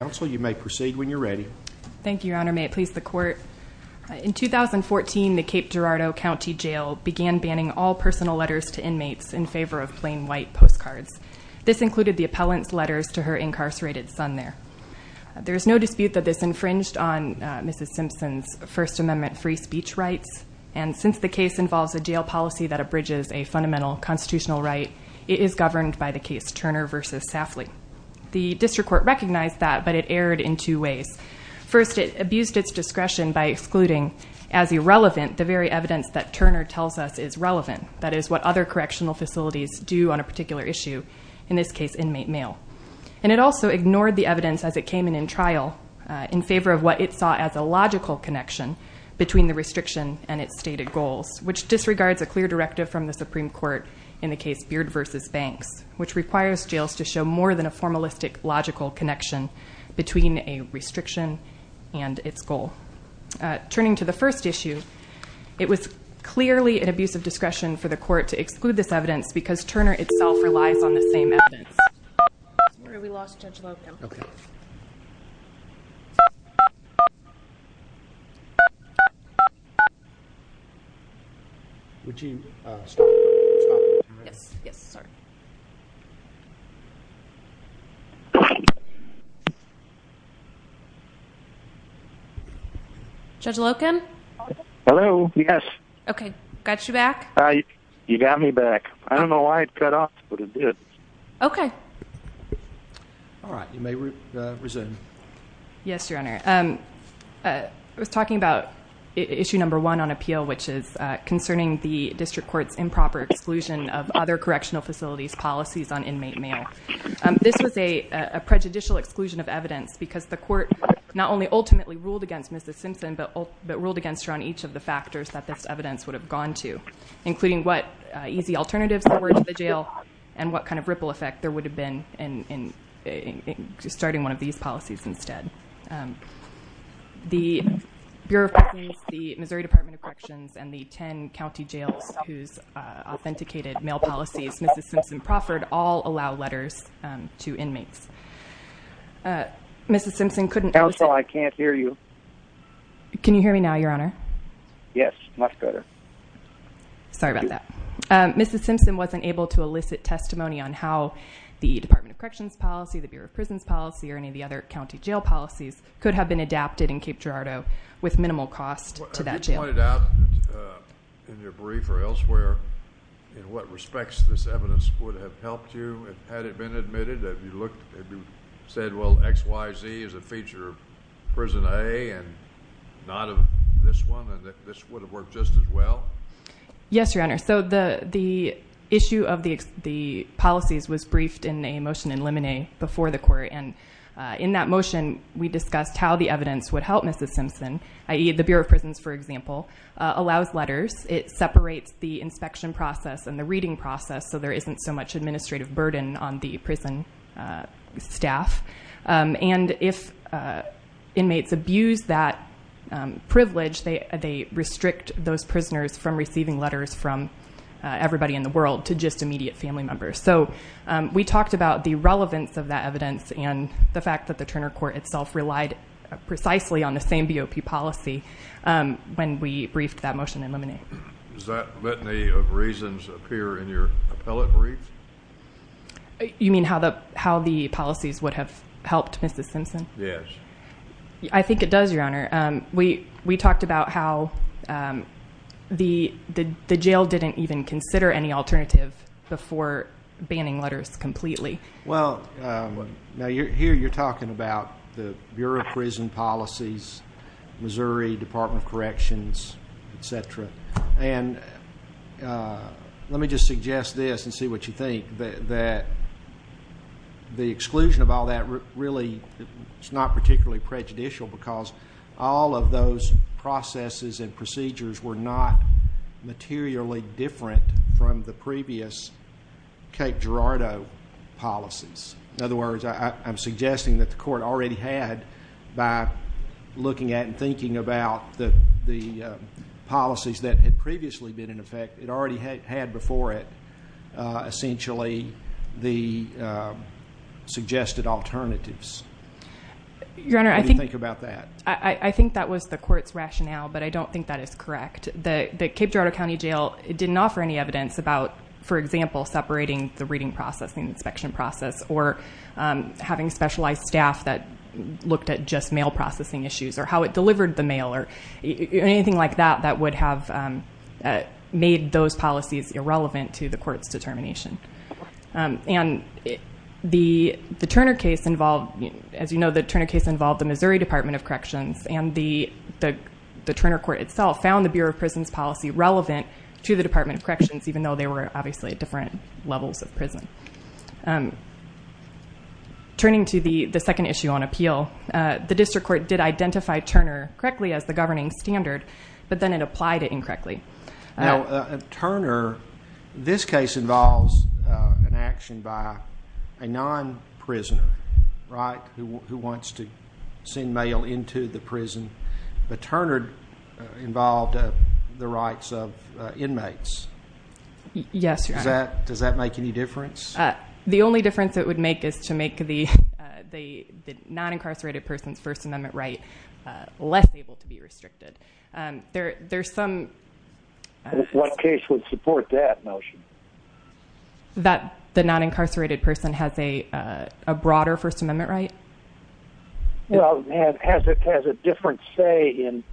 In 2014, the Cape Girardeau County Jail began banning all personal letters to inmates in favor of plain white postcards. This included the appellant's letters to her incarcerated son there. There is no dispute that this infringed on Mrs. Simpson's First Amendment free speech rights, and since the case involves a jail policy that abridges a fundamental constitutional right, it is governed by the case Turner v. Safley. The District Court recognized that, but it erred in two ways. First, it abused its discretion by excluding as irrelevant the very evidence that Turner tells us is relevant, that is, what other correctional facilities do on a particular issue, in this case, inmate mail. And it also ignored the evidence as it came in in trial in favor of what it saw as a logical connection between the restriction and its stated goals, which disregards a clear directive from the Supreme Court in the case Beard v. Banks, which requires jails to show more than a formalistic, logical connection between a restriction and its goal. Turning to the first issue, it was clearly an abuse of discretion for the court to exclude this evidence because Turner itself relies on the same evidence. We lost. Judge Loken. Hello. Yes. Okay. Got you back. You got me back. I don't know why it cut off. Okay. All right, you may resume. Yes, Your Honor. I was talking about issue number one on appeal, which is concerning the District Court's improper exclusion of other correctional facilities policies on inmate mail. This was a prejudicial exclusion of evidence because the court not only ultimately ruled against Mrs. Simpson, but ruled against her on each of the factors that this evidence would have gone to, including what easy alternatives there were to the jail and what kind of ripple effect there would have been in starting one of these policies instead. The Bureau of Corrections, the Missouri Department of Corrections, and the 10 county jails whose authenticated mail policies Mrs. Simpson proffered all allow letters to inmates. Mrs. Simpson couldn't. Counsel, I can't hear you. Can you hear me now, Your Honor? Yes, much better. Sorry about that. Mrs. Simpson wasn't able to elicit testimony on how the Department of Corrections policy, the Bureau of Prisons policy, or any of the other county jail policies could have been adapted in Cape Girardeau with minimal cost to that jail. Have you pointed out in your brief or elsewhere in what respects this evidence would have helped you had it been admitted? Have you said, well, XYZ is a feature of Prison A and not of this one, and that this would have worked just as well? Yes, Your Honor. So the issue of the policies was briefed in a motion in limine before the court. And in that motion, we discussed how the evidence would help Mrs. Simpson, i.e., the Bureau of Prisons, for example, allows letters. It separates the inspection process and the reading process so there isn't so much administrative burden on the prison staff. And if inmates abuse that privilege, they restrict those prisoners from receiving letters from everybody in the world to just immediate family members. So we talked about the relevance of that evidence and the fact that the Turner Court itself relied precisely on the same BOP policy when we briefed that motion in limine. Does that litany of reasons appear in your appellate brief? You mean how the policies would have helped Mrs. Simpson? Yes. I think it does, Your Honor. We talked about how the jail didn't even consider any alternative before banning letters completely. Well, here you're talking about the Bureau of Prison Policies, Missouri Department of Corrections, et cetera. And let me just suggest this and see what you think, that the exclusion of all that really is not particularly prejudicial because all of those processes and procedures were not materially different from the previous Cape Girardeau policies. In other words, I'm suggesting that the court already had, by looking at and thinking about the policies that had previously been in effect, it already had before it essentially the suggested alternatives. What do you think about that? I think that was the court's rationale, but I don't think that is correct. The Cape Girardeau County Jail didn't offer any evidence about, for example, separating the reading process and inspection process or having specialized staff that looked at just mail processing issues or how it delivered the mail or anything like that that would have made those policies irrelevant to the court's determination. And the Turner case involved, as you know, the Turner case involved the Missouri Department of Corrections and the Turner court itself found the Bureau of Prisons policy relevant to the Department of Corrections, even though they were obviously at different levels of prison. Turning to the second issue on appeal, the district court did identify Turner correctly as the governing standard, but then it applied it incorrectly. Now, Turner, this case involves an action by a non-prisoner, right, who wants to send mail into the prison, but Turner involved the rights of inmates. Yes, Your Honor. Does that make any difference? The only difference it would make is to make the non-incarcerated person's first amendment right less able to be restricted. There's some... One case would support that notion. That the non-incarcerated person has a broader first amendment right? Well, it has a different say in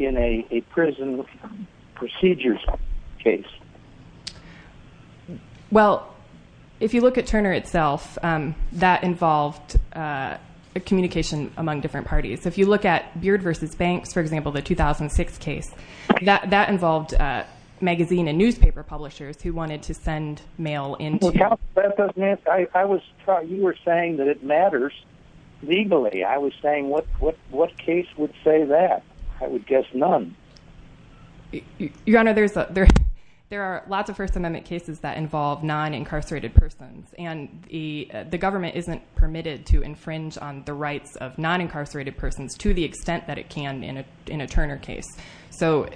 a prison procedures case. Well, if you look at Turner itself, that involved communication among different parties. If you look at Beard v. Banks, for example, the 2006 case, that involved magazine and newspaper publishers who wanted to send mail into... That doesn't... You were saying that it matters legally. I was saying what case would say that? I would guess none. Your Honor, there are lots of first amendment cases that involve non-incarcerated persons, and the government isn't permitted to infringe on the rights of non-incarcerated persons to the extent that it can in a Turner case. So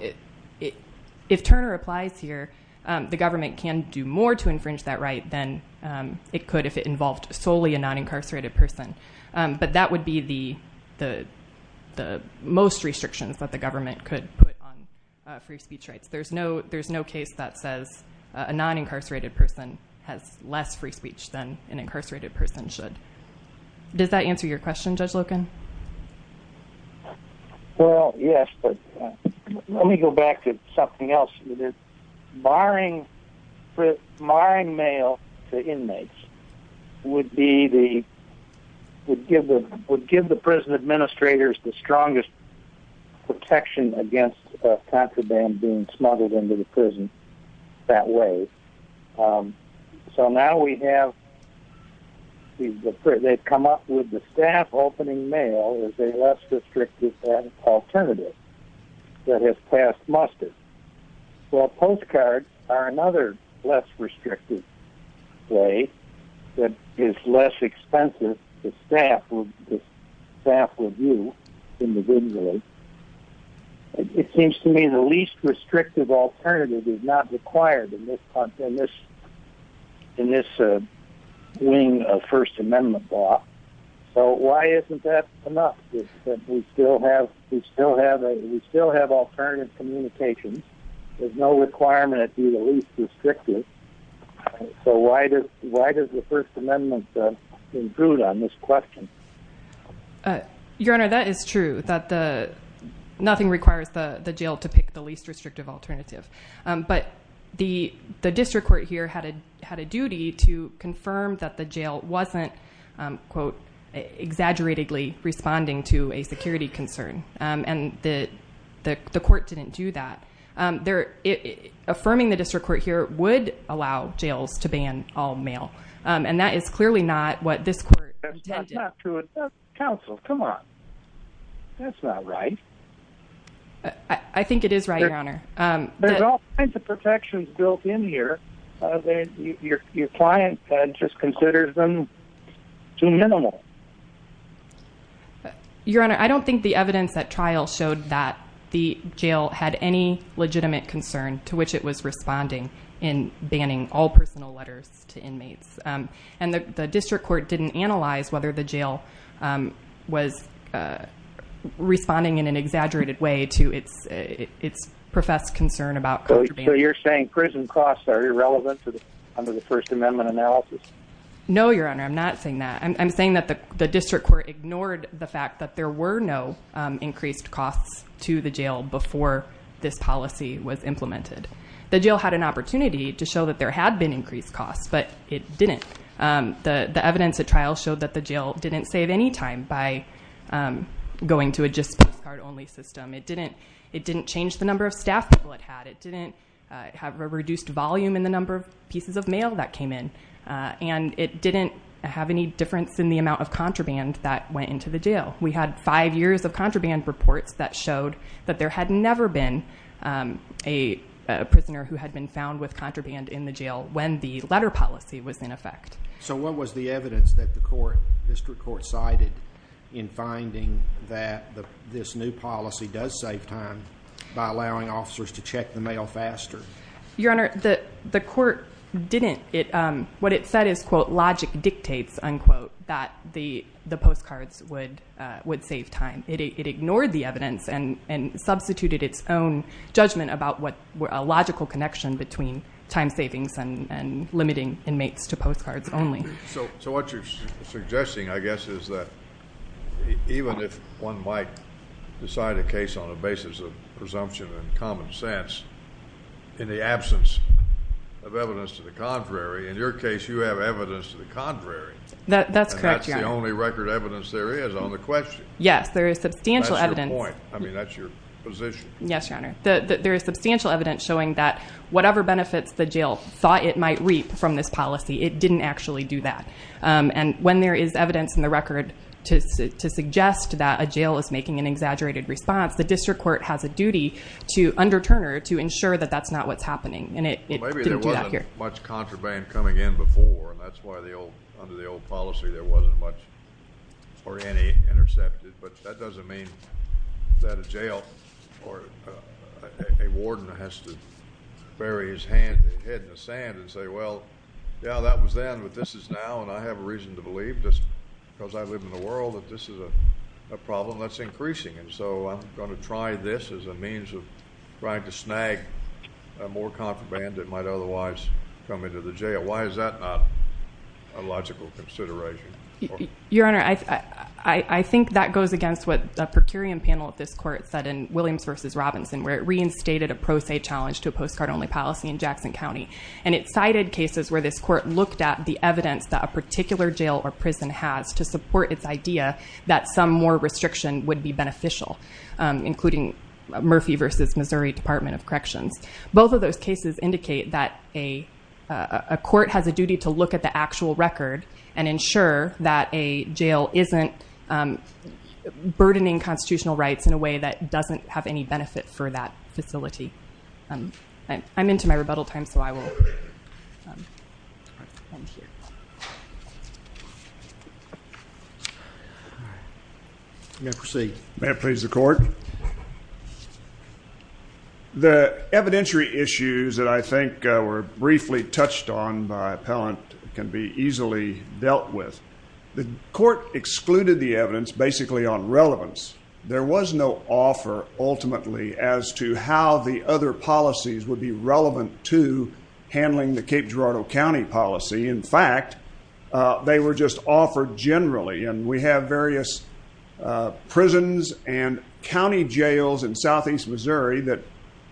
if Turner applies here, the government can do more to infringe that right than it could if it involved solely a non-incarcerated person. But that would be the most restrictions that the government could put on free speech rights. There's no case that says a non-incarcerated person has less free speech than an incarcerated person should. Does that answer your question, Judge Loken? Well, yes, but let me go back to something else. Barring mail to inmates would be the... There's protection against contraband being smuggled into the prison that way. So now we have... They've come up with the staff opening mail as a less restrictive alternative that has passed muster. Well, postcards are another less restrictive way that is less expensive. The staff will view individually. It seems to me the least restrictive alternative is not required in this wing of First Amendment law. So why isn't that enough? We still have alternative communications. So why does the First Amendment include on this question? Your Honor, that is true, that nothing requires the jail to pick the least restrictive alternative. But the district court here had a duty to confirm that the jail wasn't, quote, exaggeratedly responding to a security concern, and the court didn't do that. Affirming the district court here would allow jails to ban all mail. And that is clearly not what this court intended. That's not true. Counsel, come on. That's not right. I think it is right, Your Honor. There's all kinds of protections built in here that your client just considers them too minimal. Your Honor, I don't think the evidence at trial showed that the jail had any legitimate concern to which it was responding in banning all personal letters to inmates. And the district court didn't analyze whether the jail was responding in an exaggerated way to its professed concern about contraband. So you're saying prison costs are irrelevant under the First Amendment analysis? No, Your Honor, I'm not saying that. I'm saying that the district court ignored the fact that there were no increased costs to the jail before this policy was implemented. The jail had an opportunity to show that there had been increased costs, but it didn't. The evidence at trial showed that the jail didn't save any time by going to a just postcard only system. It didn't change the number of staff people it had. It didn't have a reduced volume in the number of pieces of mail that came in. And it didn't have any difference in the amount of contraband that went into the jail. We had five years of contraband reports that showed that there had never been a prisoner who had been found with contraband in the jail when the letter policy was in effect. So what was the evidence that the district court cited in finding that this new policy does save time by allowing officers to check the mail faster? Your Honor, the court didn't. What it said is, quote, logic dictates, unquote, that the postcards would save time. It ignored the evidence and substituted its own judgment about a logical connection between time savings and limiting inmates to postcards only. So what you're suggesting, I guess, is that even if one might decide a case on the basis of presumption and common sense in the absence of evidence to the contrary, in your case you have evidence to the contrary. That's correct, Your Honor. And that's the only record evidence there is on the question. Yes, there is substantial evidence. That's your point. I mean, that's your position. Yes, Your Honor. There is substantial evidence showing that whatever benefits the jail thought it might reap from this policy, it didn't actually do that. And when there is evidence in the record to suggest that a jail is making an exaggerated response, the district court has a duty to underturn or to ensure that that's not what's happening, and it didn't do that here. Maybe there wasn't much contraband coming in before, and that's why under the old policy there wasn't much or any intercepted. But that doesn't mean that a jail or a warden has to bury his head in the sand and say, well, yeah, that was then, but this is now, and I have a reason to believe, just because I live in the world, that this is a problem that's increasing. And so I'm going to try this as a means of trying to snag more contraband that might otherwise come into the jail. Why is that not a logical consideration? Your Honor, I think that goes against what the per curiam panel at this court said in Williams v. Robinson, where it reinstated a pro se challenge to a postcard-only policy in Jackson County. And it cited cases where this court looked at the evidence that a particular jail or prison has to support its idea that some more restriction would be beneficial, including Murphy v. Missouri Department of Corrections. Both of those cases indicate that a court has a duty to look at the actual record and ensure that a jail isn't burdening constitutional rights in a way that doesn't have any benefit for that facility. I'm into my rebuttal time, so I will end here. May I please the court? The evidentiary issues that I think were briefly touched on by appellant can be easily dealt with. The court excluded the evidence basically on relevance. There was no offer ultimately as to how the other policies would be relevant to handling the Cape Girardeau County policy. In fact, they were just offered generally. And we have various prisons and county jails in southeast Missouri that,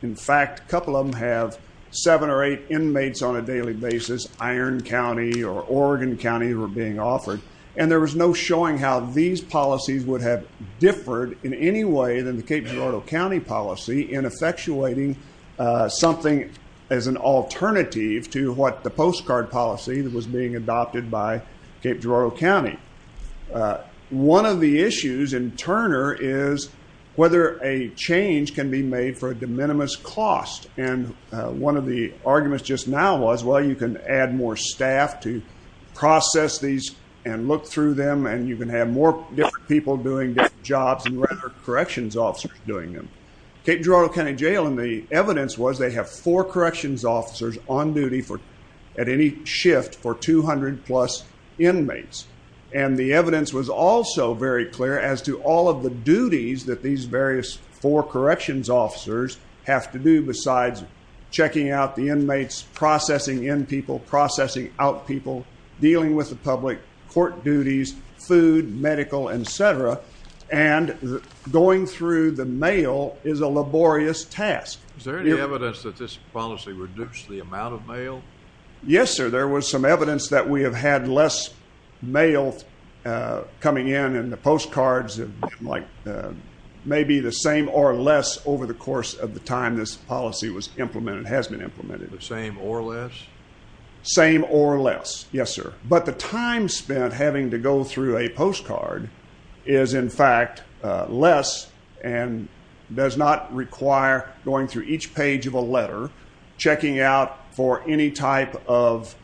in fact, a couple of them have seven or eight inmates on a daily basis. Iron County or Oregon County were being offered. And there was no showing how these policies would have differed in any way than the Cape Girardeau County policy in effectuating something as an alternative to what the postcard policy that was being adopted by Cape Girardeau County. One of the issues in Turner is whether a change can be made for a de minimis cost. And one of the arguments just now was, well, you can add more staff to process these and look through them, and you can have more different people doing different jobs and corrections officers doing them. Cape Girardeau County Jail in the evidence was they have four corrections officers on duty at any shift for 200 plus inmates. And the evidence was also very clear as to all of the duties that these various four corrections officers have to do besides checking out the inmates, processing in people, processing out people, dealing with the public, court duties, food, medical, et cetera. And going through the mail is a laborious task. Is there any evidence that this policy reduced the amount of mail? Yes, sir. There was some evidence that we have had less mail coming in, and the postcards have been like maybe the same or less over the course of the time this policy was implemented, has been implemented. The same or less? Same or less. Yes, sir. But the time spent having to go through a postcard is in fact less and does not require going through each page of a letter, checking out for any type of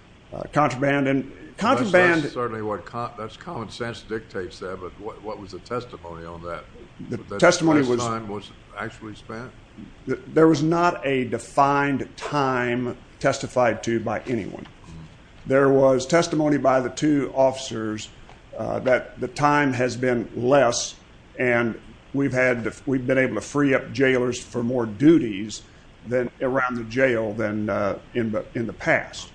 contraband. That's certainly what common sense dictates there, but what was the testimony on that? The testimony was- That time was actually spent? There was not a defined time testified to by anyone. There was testimony by the two officers that the time has been less, and we've been able to free up jailers for more duties around the jail than in the past.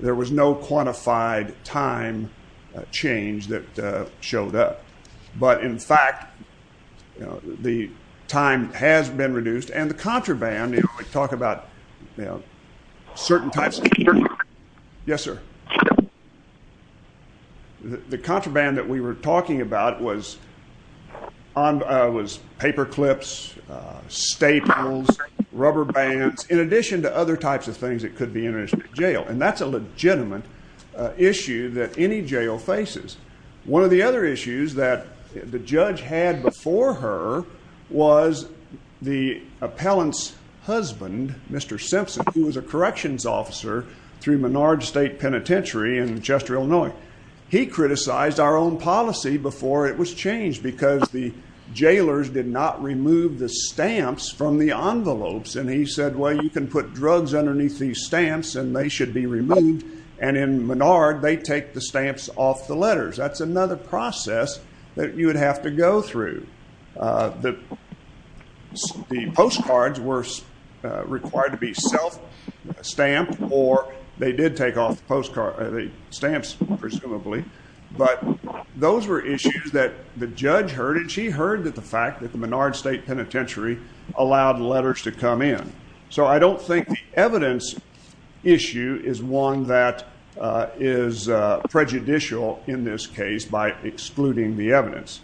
There was no quantified time change that showed up. But in fact, the time has been reduced, and the contraband, we talk about certain types of- Yes, sir. The contraband that we were talking about was paperclips, staples, rubber bands, in addition to other types of things that could be in a jail, and that's a legitimate issue that any jail faces. One of the other issues that the judge had before her was the appellant's husband, Mr. Simpson, who was a corrections officer through Menard State Penitentiary in Chester, Illinois. He criticized our own policy before it was changed because the jailers did not remove the stamps from the envelopes, and he said, well, you can put drugs underneath these stamps, and they should be removed, and in Menard, they take the stamps off the letters. That's another process that you would have to go through. The postcards were required to be self-stamped, or they did take off the stamps, presumably, but those were issues that the judge heard, and she heard the fact that the Menard State Penitentiary allowed letters to come in. So I don't think the evidence issue is one that is prejudicial in this case by excluding the evidence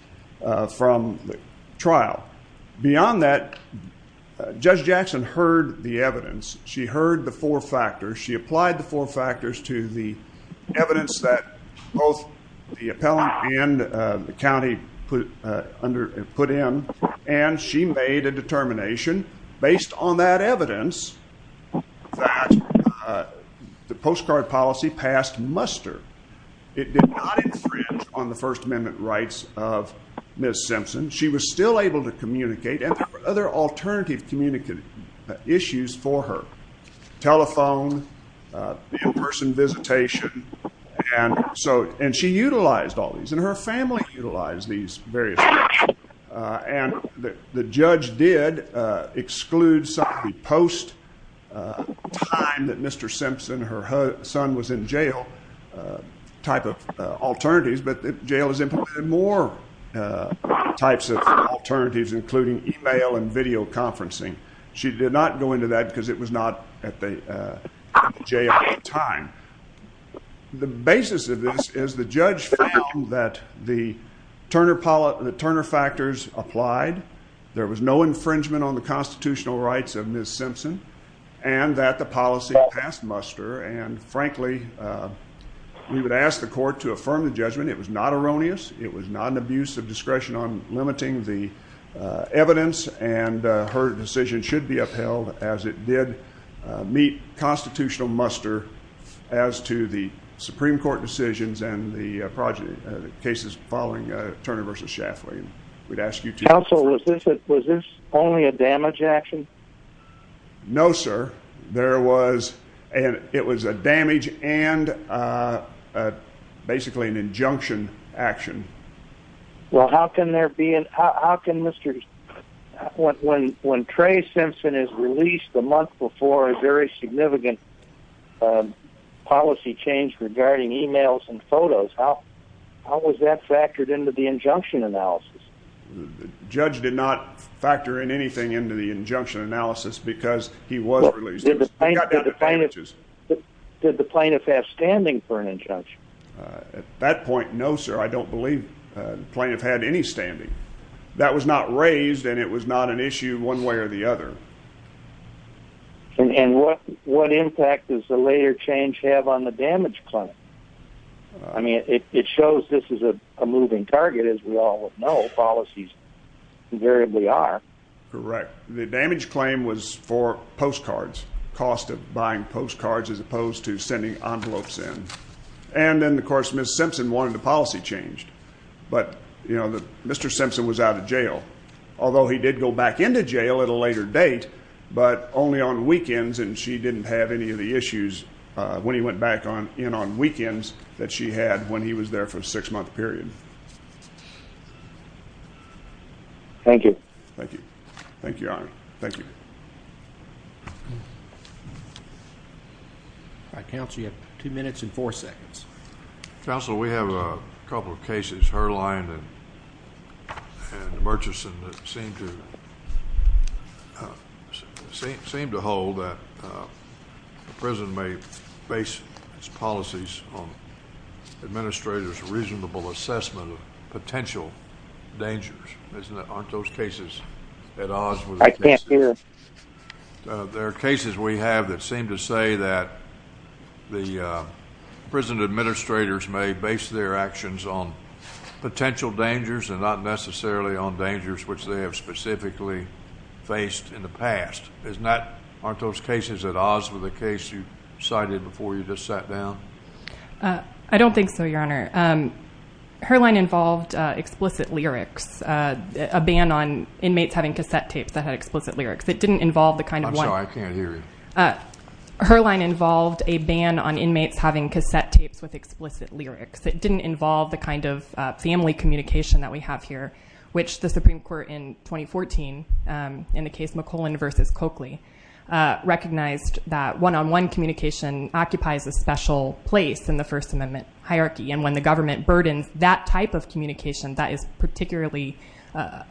from the trial. Beyond that, Judge Jackson heard the evidence. She heard the four factors. She applied the four factors to the evidence that both the appellant and the county put in, and she made a determination based on that evidence that the postcard policy passed muster. It did not infringe on the First Amendment rights of Ms. Simpson. She was still able to communicate, and there were other alternative issues for her, telephone, in-person visitation, and she utilized all these, and her family utilized these various things, and the judge did exclude some of the post-time that Mr. Simpson, her son, was in jail type of alternatives, but the jail has implemented more types of alternatives, including email and video conferencing. She did not go into that because it was not at the jail at the time. The basis of this is the judge found that the Turner factors applied. There was no infringement on the constitutional rights of Ms. Simpson and that the policy passed muster, and frankly, we would ask the court to affirm the judgment. It was not erroneous. It was not an abuse of discretion on limiting the evidence, and her decision should be upheld as it did meet constitutional muster as to the Supreme Court decisions and the cases following Turner v. Shaftway. We'd ask you to- Counsel, was this only a damage action? No, sir. There was, and it was a damage and basically an injunction action. Well, how can there be, how can Mr., when Trey Simpson is released the month before a very significant policy change regarding emails and photos, how was that factored into the injunction analysis? The judge did not factor in anything into the injunction analysis because he was released. He got down to damages. Did the plaintiff have standing for an injunction? At that point, no, sir. I don't believe the plaintiff had any standing. That was not raised and it was not an issue one way or the other. And what impact does the later change have on the damage claim? I mean, it shows this is a moving target, as we all know, policies invariably are. Correct. The damage claim was for postcards, cost of buying postcards as opposed to sending envelopes in. And then, of course, Ms. Simpson wanted the policy changed. But, you know, Mr. Simpson was out of jail, although he did go back into jail at a later date, but only on weekends and she didn't have any of the issues when he went back in on weekends that she had when he was there for a six-month period. Thank you. Thank you. Thank you, Your Honor. Thank you. All right, counsel, you have two minutes and four seconds. Counsel, we have a couple of cases, Herline and Murchison, that seem to hold that the prison may base its policies on administrators' reasonable assessment of potential dangers. Aren't those cases at odds with the cases? I can't hear. There are cases we have that seem to say that the prison administrators may base their actions on potential dangers and not necessarily on dangers which they have specifically faced in the past. Aren't those cases at odds with the case you cited before you just sat down? I don't think so, Your Honor. Herline involved explicit lyrics, a ban on inmates having cassette tapes that had explicit lyrics. It didn't involve the kind of one- I'm sorry, I can't hear you. Herline involved a ban on inmates having cassette tapes with explicit lyrics. It didn't involve the kind of family communication that we have here, which the Supreme Court in 2014 in the case McClellan v. Coakley recognized that one-on-one communication occupies a special place in the First Amendment hierarchy, and when the government burdens that type of communication, that is particularly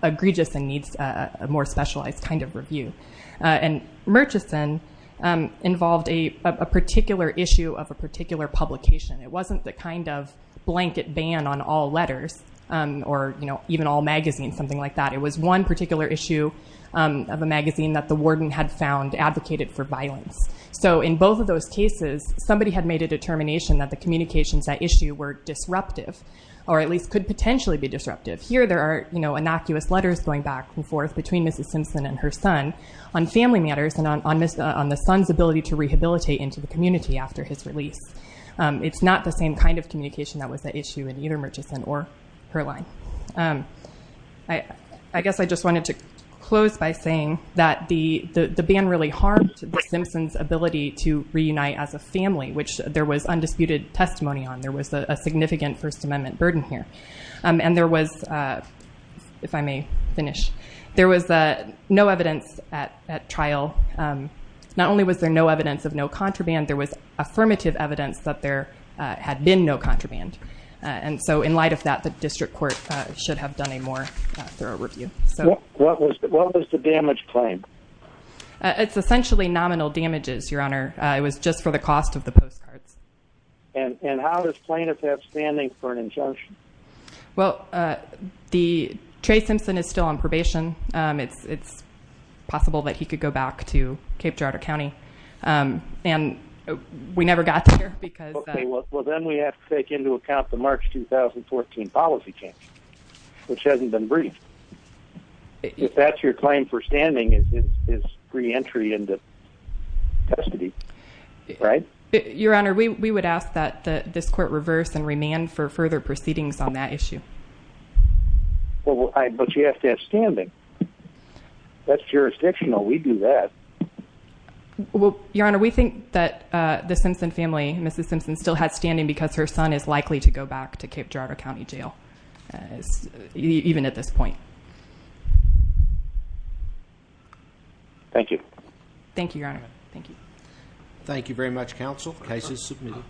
egregious and needs a more specialized kind of review. And Murchison involved a particular issue of a particular publication. It wasn't the kind of blanket ban on all letters or even all magazines, something like that. It was one particular issue of a magazine that the warden had found advocated for violence. So in both of those cases, somebody had made a determination that the communications at issue were disruptive or at least could potentially be disruptive. Here there are innocuous letters going back and forth between Mrs. Simpson and her son on family matters and on the son's ability to rehabilitate into the community after his release. It's not the same kind of communication that was at issue in either Murchison or Herline. I guess I just wanted to close by saying that the ban really harmed the Simpsons' ability to reunite as a family, which there was undisputed testimony on. There was a significant First Amendment burden here. And there was, if I may finish, there was no evidence at trial. Not only was there no evidence of no contraband, there was affirmative evidence that there had been no contraband. And so in light of that, the district court should have done a more thorough review. What was the damage claim? It's essentially nominal damages, Your Honor. It was just for the cost of the postcards. And how is plaintiff at standing for an injunction? Well, Trey Simpson is still on probation. It's possible that he could go back to Cape Girardeau County. And we never got there because Well, then we have to take into account the March 2014 policy change, which hasn't been briefed. If that's your claim for standing, it's reentry into custody, right? Your Honor, we would ask that this court reverse and remand for further proceedings on that issue. But you have to have standing. That's jurisdictional. We do that. Your Honor, we think that the Simpson family, Mrs. Simpson, still has standing because her son is likely to go back to Cape Girardeau County Jail. Even at this point. Thank you. Thank you, Your Honor. Thank you. Thank you very much, counsel. Case is submitted.